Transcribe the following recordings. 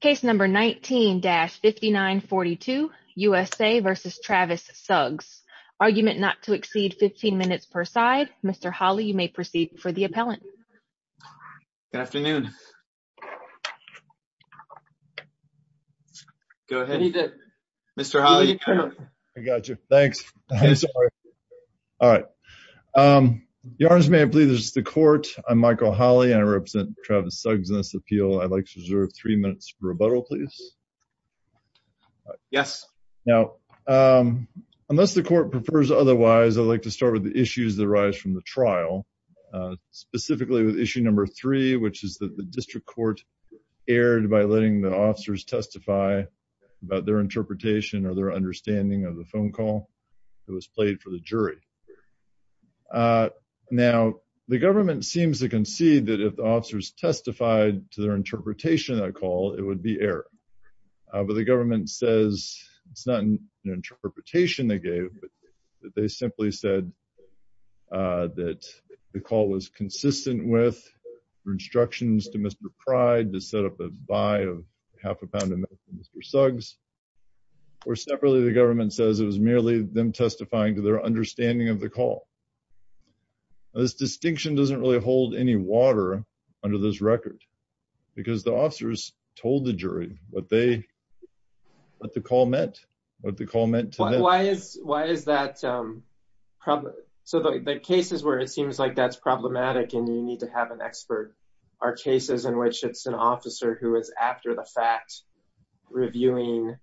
Case number 19-5942, USA versus Travis Suggs. Argument not to exceed 15 minutes per side. Mr. Hawley, you may proceed for the appellant. Good afternoon. Go ahead. Mr. Hawley. I got you. Thanks. All right. Your Honor, I believe this is the court. I'm Michael Hawley and I represent Travis Suggs in this appeal. I'd like to reserve three minutes for rebuttal, please. Yes. Now, unless the court prefers otherwise, I'd like to start with the issues that arise from the trial, specifically with issue number three, which is that the district court erred by letting the officers testify about their interpretation or their understanding of the phone call that was played for the jury. Now, the government seems to concede that if officers testified to their interpretation of that call, it would be error. But the government says it's not an interpretation they gave, but they simply said that the call was consistent with instructions to Mr. Pride to set up a buy of half a pound of milk for Mr. Suggs. Or separately, the government says it was merely them testifying to their understanding of the call. This distinction doesn't really hold any water under this record, because the officers told the jury what the call meant, what the call meant to them. Why is that? So the cases where it seems like that's problematic and you need to have an expert are cases in which it's an officer who is, after the fact, reviewing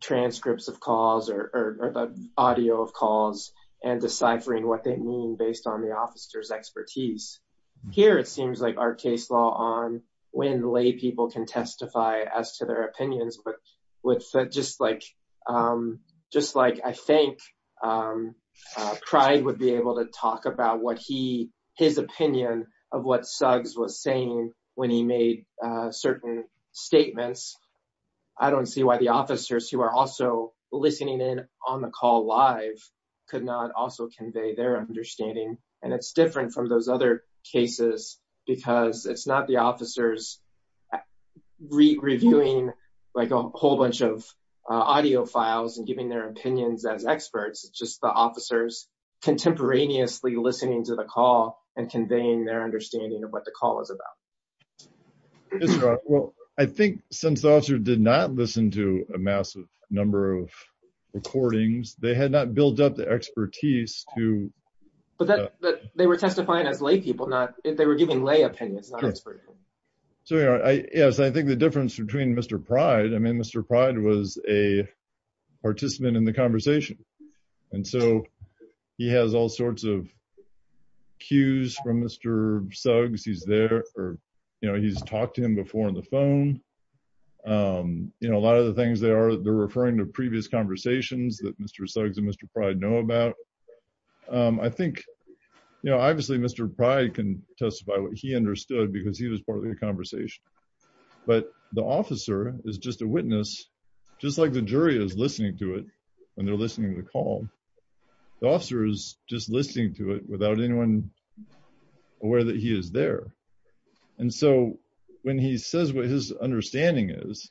transcripts of calls or the deciphering what they mean based on the officer's expertise. Here, it seems like our case law on when lay people can testify as to their opinions, but just like I think Pride would be able to talk about his opinion of what Suggs was saying when he made certain statements, I don't see why the convey their understanding. And it's different from those other cases, because it's not the officers reviewing a whole bunch of audio files and giving their opinions as experts. It's just the officers contemporaneously listening to the call and conveying their understanding of what the call is about. Well, I think since the officer did not listen to a massive number of recordings, they had not built up the expertise to... But they were testifying as lay people, not if they were giving lay opinions. So, yes, I think the difference between Mr. Pride, I mean, Mr. Pride was a participant in the conversation. And so he has all sorts of cues from Mr. Suggs. He's there or he's talked to him before on the phone. You know, a lot of the things they are, they're referring to previous conversations that Mr. Suggs and Mr. Pride know about. I think, you know, obviously, Mr. Pride can testify what he understood because he was part of the conversation. But the officer is just a witness, just like the jury is listening to it, and they're listening to the call. The officer is just listening to the call. And so, I think what Mr. Pride's understanding is,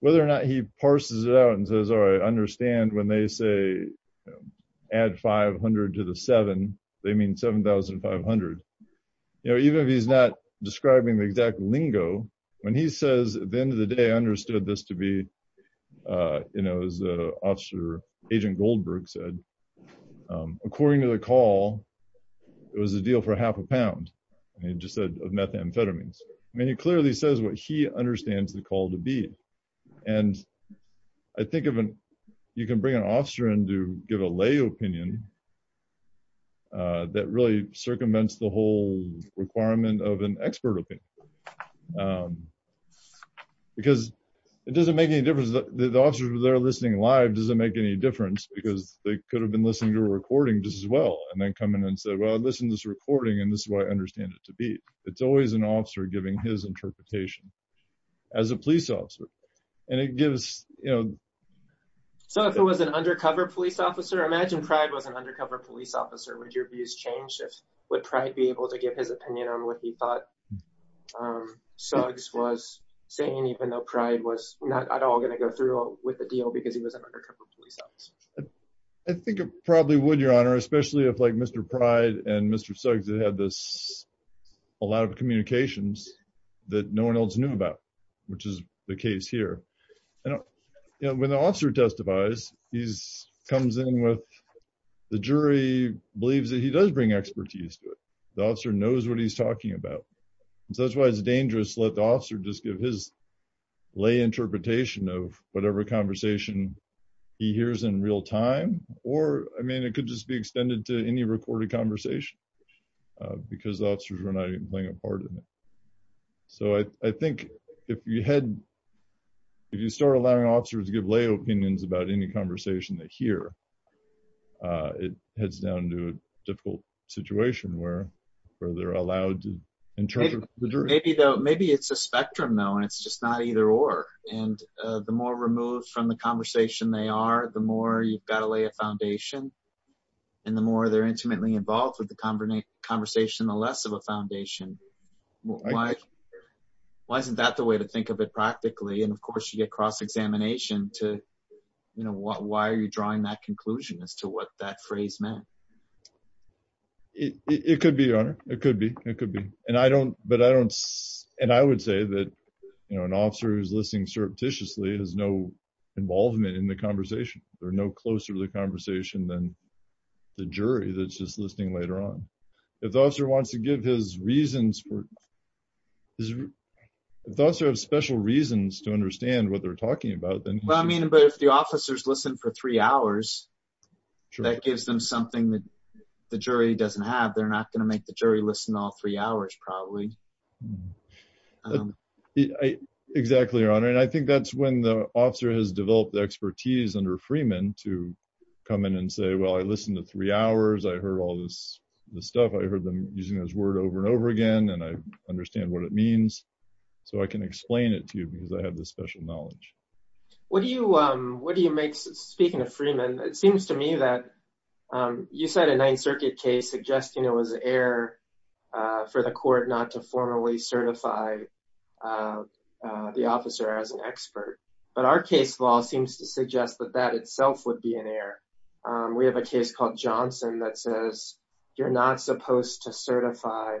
whether or not he parses it out and says, all right, I understand when they say, add 500 to the seven, they mean 7,500. You know, even if he's not describing the exact lingo, when he says, at the end of the day, I understood this to be, you know, as Officer Agent Goldberg said, according to the call, it was a deal for half a pound, and he just said of methamphetamines. I mean, he clearly says what he understands the call to be. And I think you can bring an officer in to give a lay opinion that really circumvents the whole requirement of an expert opinion. Because it doesn't make any difference. The officers that are listening live doesn't make any difference because they could have been listening to a recording just as well and then said, well, I listened to this recording, and this is what I understand it to be. It's always an officer giving his interpretation as a police officer. And it gives, you know... So, if it was an undercover police officer, imagine Pride was an undercover police officer, would your views change? Would Pride be able to give his opinion on what he thought Suggs was saying, even though Pride was not at all going to go through with the deal because he was an undercover police officer? I think it probably would, Your Honor, especially if Mr. Pride and Mr. Suggs had a lot of communications that no one else knew about, which is the case here. When the officer testifies, the jury believes that he does bring expertise to it. The officer knows what he's talking about. So, that's why it's dangerous to let the officer just give his lay interpretation of whatever conversation he hears in real time. Or, I mean, it could just be extended to any recorded conversation because the officers were not even playing a part in it. So, I think if you start allowing officers to give lay opinions about any conversation they hear, it heads down to a difficult situation where they're allowed to interpret. Maybe it's a spectrum, though, and it's just not either or. And the more removed from the conversation they are, the more you've got to lay a foundation, and the more they're intimately involved with the conversation, the less of a foundation. Why isn't that the way to think of it practically? And of course, you get cross-examination to, you know, why are you drawing that conclusion as to what that phrase meant? It could be, Your Honor. It could be. It could be. And I don't, but I don't, and I would say that, you know, an officer who's listening surreptitiously has no involvement in the conversation. They're no closer to the conversation than the jury that's just listening later on. If the officer wants to give his reasons for, if the officer has special reasons to understand what they're talking about, then... Well, I mean, but if the officers listen for three hours, that gives them something that the jury doesn't have. They're not going to make the jury listen all three hours, probably. Exactly, Your Honor. And I think that's when the officer has developed the expertise under Freeman to come in and say, well, I listened to three hours. I heard all this stuff. I heard them using those words over and over again, and I understand what it means. So I can explain it to you because I have this special knowledge. What do you make, speaking of Freeman, it seems to me that you said a Ninth Circuit case suggesting it was an error for the court not to formally certify the officer as an expert, but our case law seems to suggest that that itself would be an error. We have a case called Johnson that says you're not supposed to certify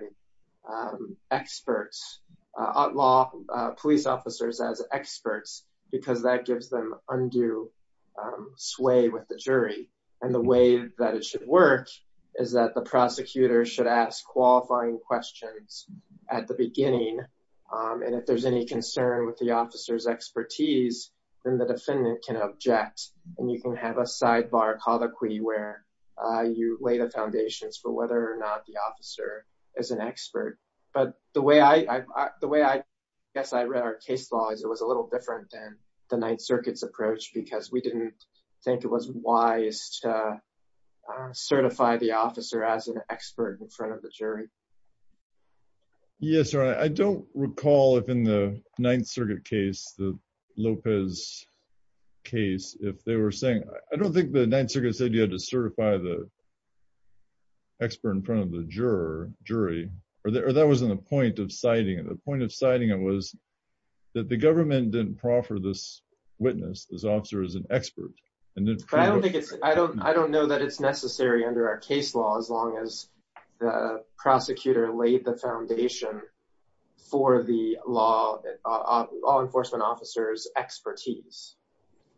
experts, law police officers as experts because that gives them undue sway with the jury and the way that it should work is that the prosecutor should ask qualifying questions at the beginning. And if there's any concern with the officer's expertise, then the defendant can object and you can have a sidebar colloquy where you lay the foundations for whether or not the officer is an expert. But the way I guess I read our case law is it was a little different than Ninth Circuit's approach because we didn't think it was wise to certify the officer as an expert in front of the jury. Yes, I don't recall if in the Ninth Circuit case, the Lopez case, if they were saying, I don't think the Ninth Circuit said you had to certify the expert in front of the jury, or that wasn't the point of citing it. The point of citing it was that the government didn't proffer this witness, this officer, as an expert. I don't know that it's necessary under our case law as long as the prosecutor laid the foundation for the law enforcement officer's expertise.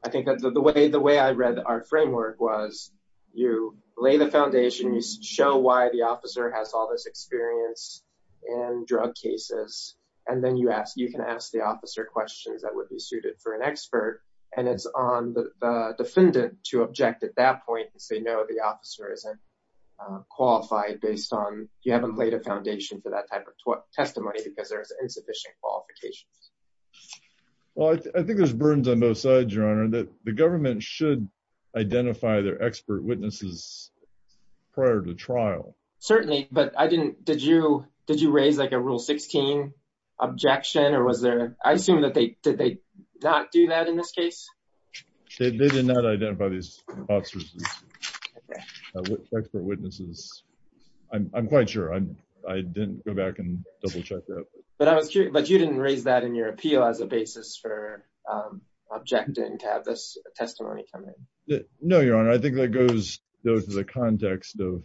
I think that the way I read our framework was you lay the foundation, you show why the officer has all this experience in drug cases, and then you can ask the officer questions that would be suited for an expert. And it's on the defendant to object at that point and say, no, the officer isn't qualified based on you haven't laid a foundation for that type of testimony because there's insufficient qualifications. Well, I think there's burdens on both sides, Your Honor, that the government should identify their expert witnesses prior to trial. Certainly, but did you raise like a rule 16? Objection or was there? I assume that they did not do that in this case. They did not identify these officers as expert witnesses. I'm quite sure. I didn't go back and double check that. But I was curious, but you didn't raise that in your appeal as a basis for objecting to have this testimony come in. No, Your Honor. I think that goes to the context of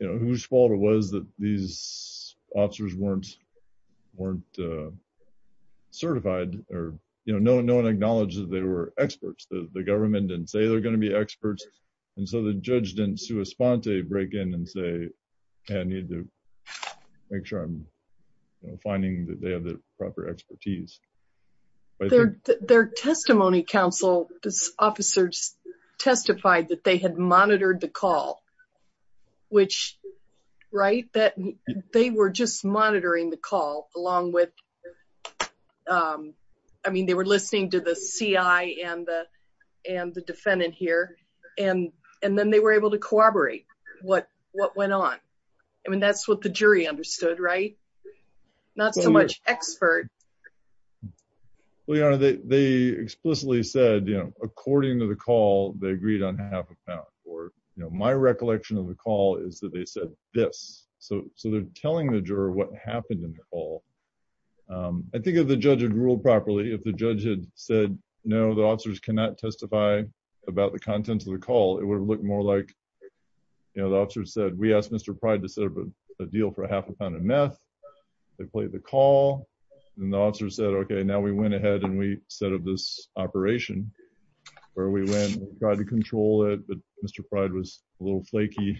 whose fault it was that these officers weren't certified or no one acknowledged that they were experts. The government didn't say they're going to be experts. And so the judge didn't break in and say, I need to make sure I'm finding that they have the proper expertise. Their testimony counsel officers testified that they had monitored the call, which right that they were just monitoring the call along with. I mean, they were listening to the CI and the defendant here, and then they were able to corroborate what went on. I mean, that's what the jury understood, right? Not so much expert. Well, Your Honor, they explicitly said, you know, according to the call, they agreed on half a pound. Or, you know, my recollection of the call is that they said this. So so they're telling the juror what happened in the call. I think if the judge had ruled properly, if the judge had said, No, the officers cannot testify about the contents of the call, it would have looked more like, you know, the officer said, we asked Mr. Pride to serve a deal for a half a pound of meth. They played the call. And the officer said, Okay, now we went ahead and we this operation, where we went and tried to control it. But Mr. Pride was a little flaky.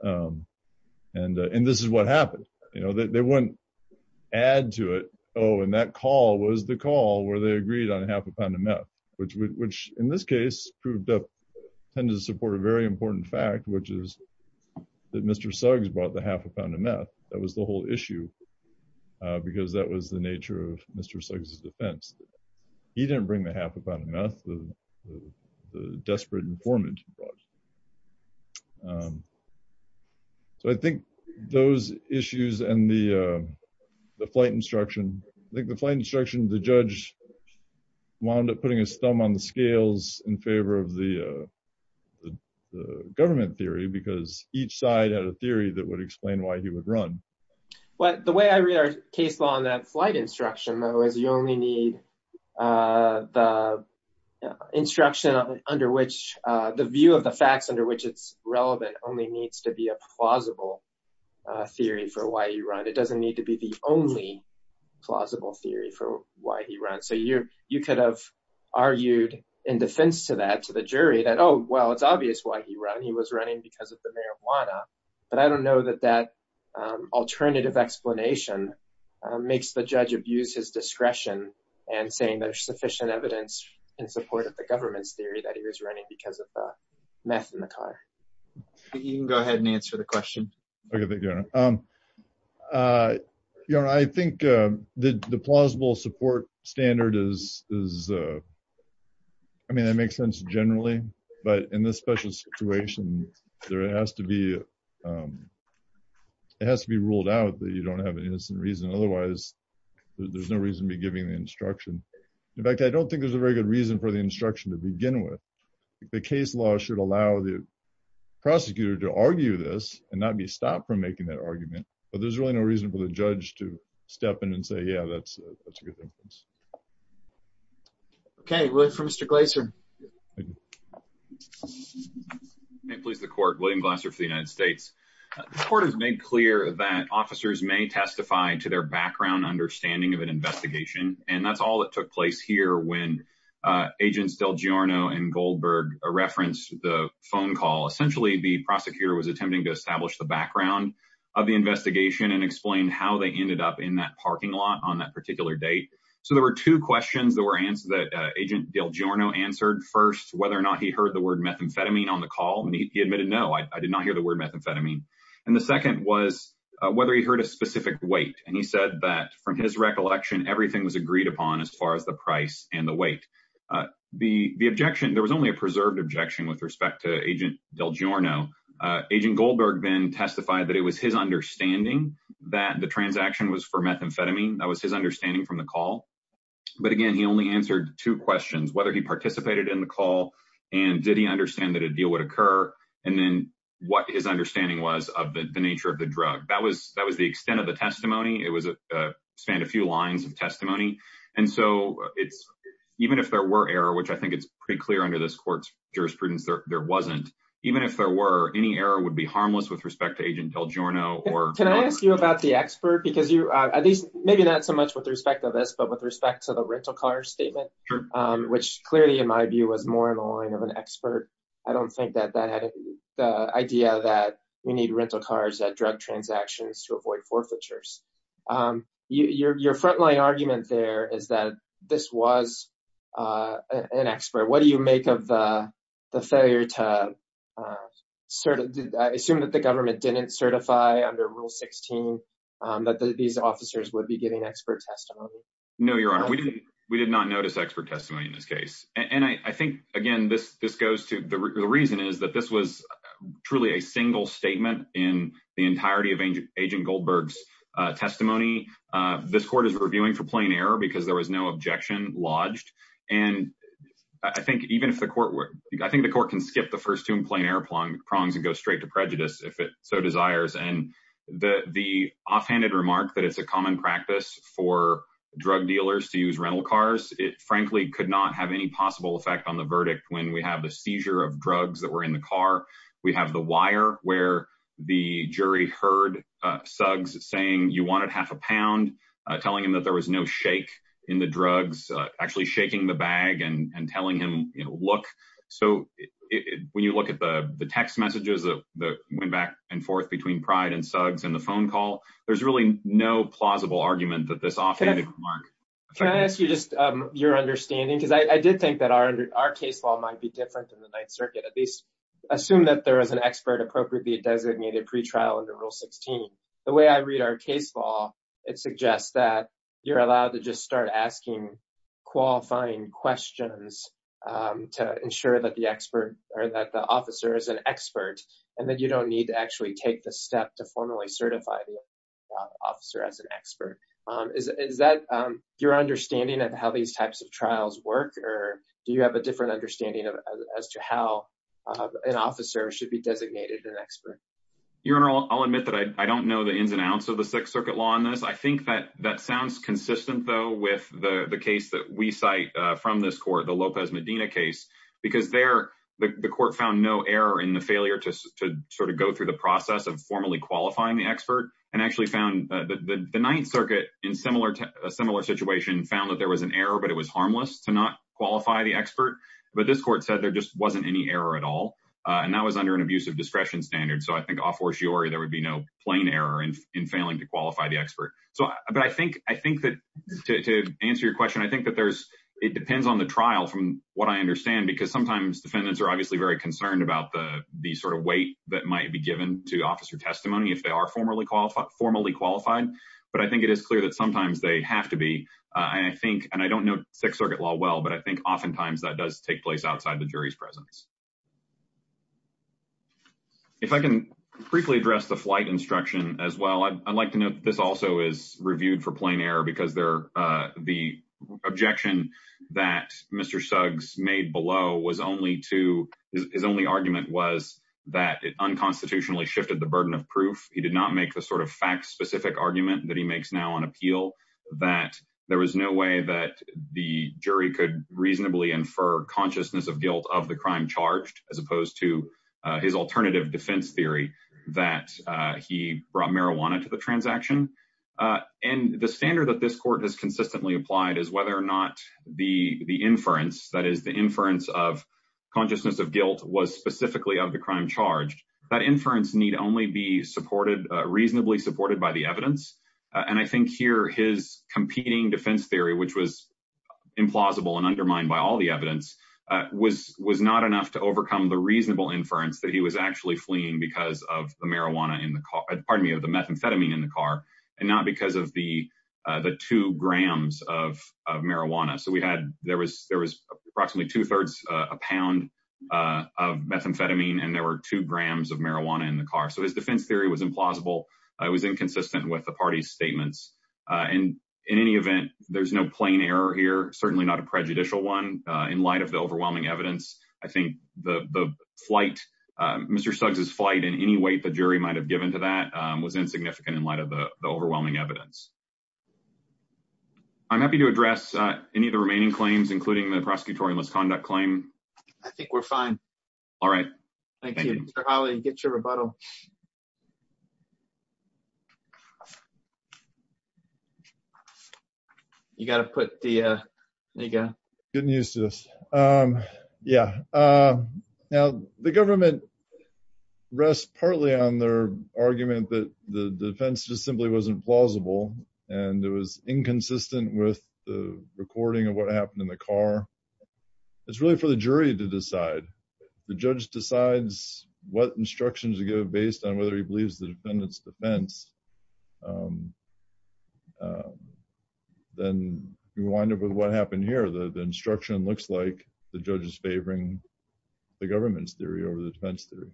And, and this is what happened. You know, they wouldn't add to it. Oh, and that call was the call where they agreed on half a pound of meth, which, which, in this case, proved to tend to support a very important fact, which is that Mr. Suggs brought the half a pound of meth. That was the whole issue. Because that was the nature of Mr. Suggs' defense. He didn't bring the half a pound of meth, the desperate informant brought. So I think those issues and the flight instruction, like the flight instruction, the judge wound up putting his thumb on the scales in favor of the government theory, because each side had a theory that would explain why he would run. But the way I read our case law on that flight instruction, though, is you only need the instruction under which the view of the facts under which it's relevant only needs to be a plausible theory for why you run, it doesn't need to be the only plausible theory for why he runs. So you, you could have argued in defense to that to the jury that, oh, well, it's obvious why he ran. He was running because of the marijuana. But I don't know that that alternative explanation makes the judge abuse his discretion and saying there's sufficient evidence in support of the government's theory that he was running because of the meth in the car. You can go ahead and answer the question. I think the plausible support standard is, I mean, that makes sense generally. But in this special situation, there has to be, it has to be ruled out that you don't have an innocent reason. Otherwise, there's no reason to be giving the instruction. In fact, I don't think there's a very good reason for the instruction to begin with. The case law should allow the prosecutor to argue this and not be stopped from making that argument. But there's really no reason for the judge to step in and say, yeah, that's a good thing. Okay. We'll wait for Mr. Glaser. May it please the court. William Glaser for the United States. The court has made clear that officers may testify to their background understanding of an investigation. And that's all that took place here when Agents Del Giorno and Goldberg referenced the phone call. Essentially, the prosecutor was attempting to establish the background of the investigation and explain how they ended up in that parking lot on that particular date. So there were two questions that Agent Del Giorno answered. First, whether or not he heard the word methamphetamine on the call. And he admitted, no, I did not hear the word methamphetamine. And the second was whether he heard a specific weight. And he said that from his recollection, everything was agreed upon as far as the price and the weight. The objection, there was only a preserved objection with respect to methamphetamine. That was his understanding from the call. But again, he only answered two questions, whether he participated in the call, and did he understand that a deal would occur? And then what his understanding was of the nature of the drug. That was the extent of the testimony. It was a span a few lines of testimony. And so it's even if there were error, which I think it's pretty clear under this court's jurisprudence, there wasn't, even if there were any error would be harmless with respect to Agent Del Giorno. Can I ask you about the expert? Because you, at least maybe not so much with respect to this, but with respect to the rental car statement, which clearly in my view was more in the line of an expert. I don't think that that had the idea that we need rental cars at drug transactions to avoid forfeitures. Your frontline argument there is that this was an expert. What do you make of the failure to sort of assume that the government didn't certify under Rule 16 that these officers would be getting expert testimony? No, Your Honor, we did not notice expert testimony in this case. And I think, again, this goes to the reason is that this was truly a single statement in the entirety of Agent Goldberg's testimony. This court is reviewing for plain error because there was no objection lodged. And I think even if the court were, I think the court can skip the first two plain error prongs and go straight to prejudice if it so desires. And the offhanded remark that it's a common practice for drug dealers to use rental cars, it frankly could not have any possible effect on the verdict when we have the seizure of drugs that were in the car. We have the wire where the jury heard Suggs saying you wanted half a pound, telling him that there was no shake in drugs, actually shaking the bag and telling him, you know, look. So when you look at the text messages that went back and forth between Pride and Suggs and the phone call, there's really no plausible argument that this offhanded remark. Can I ask you just your understanding? Because I did think that our case law might be different than the Ninth Circuit, at least assume that there is an expert appropriately designated pretrial under Rule 16. The way I read our case law, it suggests that you're allowed to just start asking qualifying questions to ensure that the expert or that the officer is an expert and that you don't need to actually take the step to formally certify the officer as an expert. Is that your understanding of how these types of trials work? Or do you have a different understanding as to how an officer should be designated an expert? Your Honor, I'll admit that I don't know the ins and outs of the Sixth Circuit law on this. I think that that sounds consistent, though, with the case that we cite from this court, the Lopez Medina case, because there the court found no error in the failure to sort of go through the process of formally qualifying the expert and actually found the Ninth Circuit in a similar situation found that there was an error, but it was harmless to not qualify the expert. But this court said there just wasn't any error at all. And that was under an abusive discretion standard. So I think, a fortiori, there would be no plain error in failing to qualify the expert. But I think that to answer your question, I think that it depends on the trial from what I understand, because sometimes defendants are obviously very concerned about the sort of weight that might be given to officer testimony if they are formally qualified. But I think it is clear that sometimes they have to be. And I think, and I don't know Sixth Circuit law well, but I think oftentimes that does take outside the jury's presence. If I can briefly address the flight instruction as well, I'd like to note this also is reviewed for plain error because they're the objection that Mr. Suggs made below was only to his only argument was that it unconstitutionally shifted the burden of proof. He did not make the sort of fact specific argument that he makes now on appeal that there was no way that the jury could reasonably infer consciousness of guilt of the crime charged as opposed to his alternative defense theory that he brought marijuana to the transaction. And the standard that this court has consistently applied is whether or not the inference, that is the inference of consciousness of guilt, was specifically of the crime charged. That inference need only be supported, reasonably supported by the evidence. And I think here his competing defense theory, which was implausible and undermined by all the evidence, was not enough to overcome the reasonable inference that he was actually fleeing because of the marijuana in the car, pardon me, of the methamphetamine in the car and not because of the two grams of marijuana. So we had, there was approximately two thirds a pound of methamphetamine and there were two grams of marijuana in the car. So his defense theory was implausible. It was inconsistent with the party's statements. And in any event, there's no plain error here, certainly not a prejudicial one in light of the overwhelming evidence. I think the flight, Mr. Stugs' flight in any way the jury might have given to that was insignificant in light of the overwhelming evidence. I'm happy to address any of the remaining claims, including the prosecutorial misconduct claim. I think we're fine. All right. Thank you. Mr. Hawley, get your rebuttal. You got to put the, there you go. Getting used to this. Yeah. Now the government rests partly on their argument that the defense just simply wasn't plausible and it was inconsistent with the recording of what happened in the car. It's really for the jury to decide. The judge decides what instructions to give based on whether he believes the defendant's defense. Then you wind up with what happened here. The instruction looks like the judge is favoring the government's theory over the defense theory.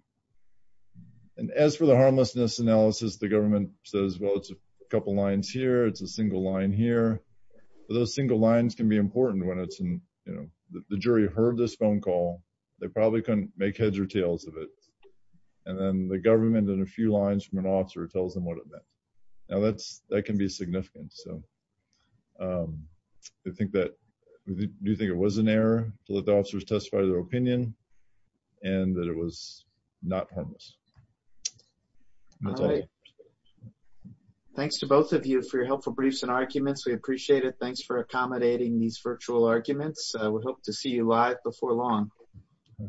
And as for the harmlessness analysis, the government says, well, it's a couple lines here. It's a single line here. Those single lines can be important when it's in, you know, the jury heard this phone call. They probably couldn't make heads or tails of it. And then the government in a few lines from an officer tells them what it meant. Now that's, that can be significant. So I think that we do think it was an error to let the officers testify to their opinion and that it was not harmless. Thanks to both of you for your helpful briefs and arguments. We appreciate it. Thanks for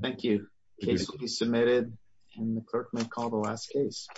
Thank you. Case will be submitted and the clerk may call the last case.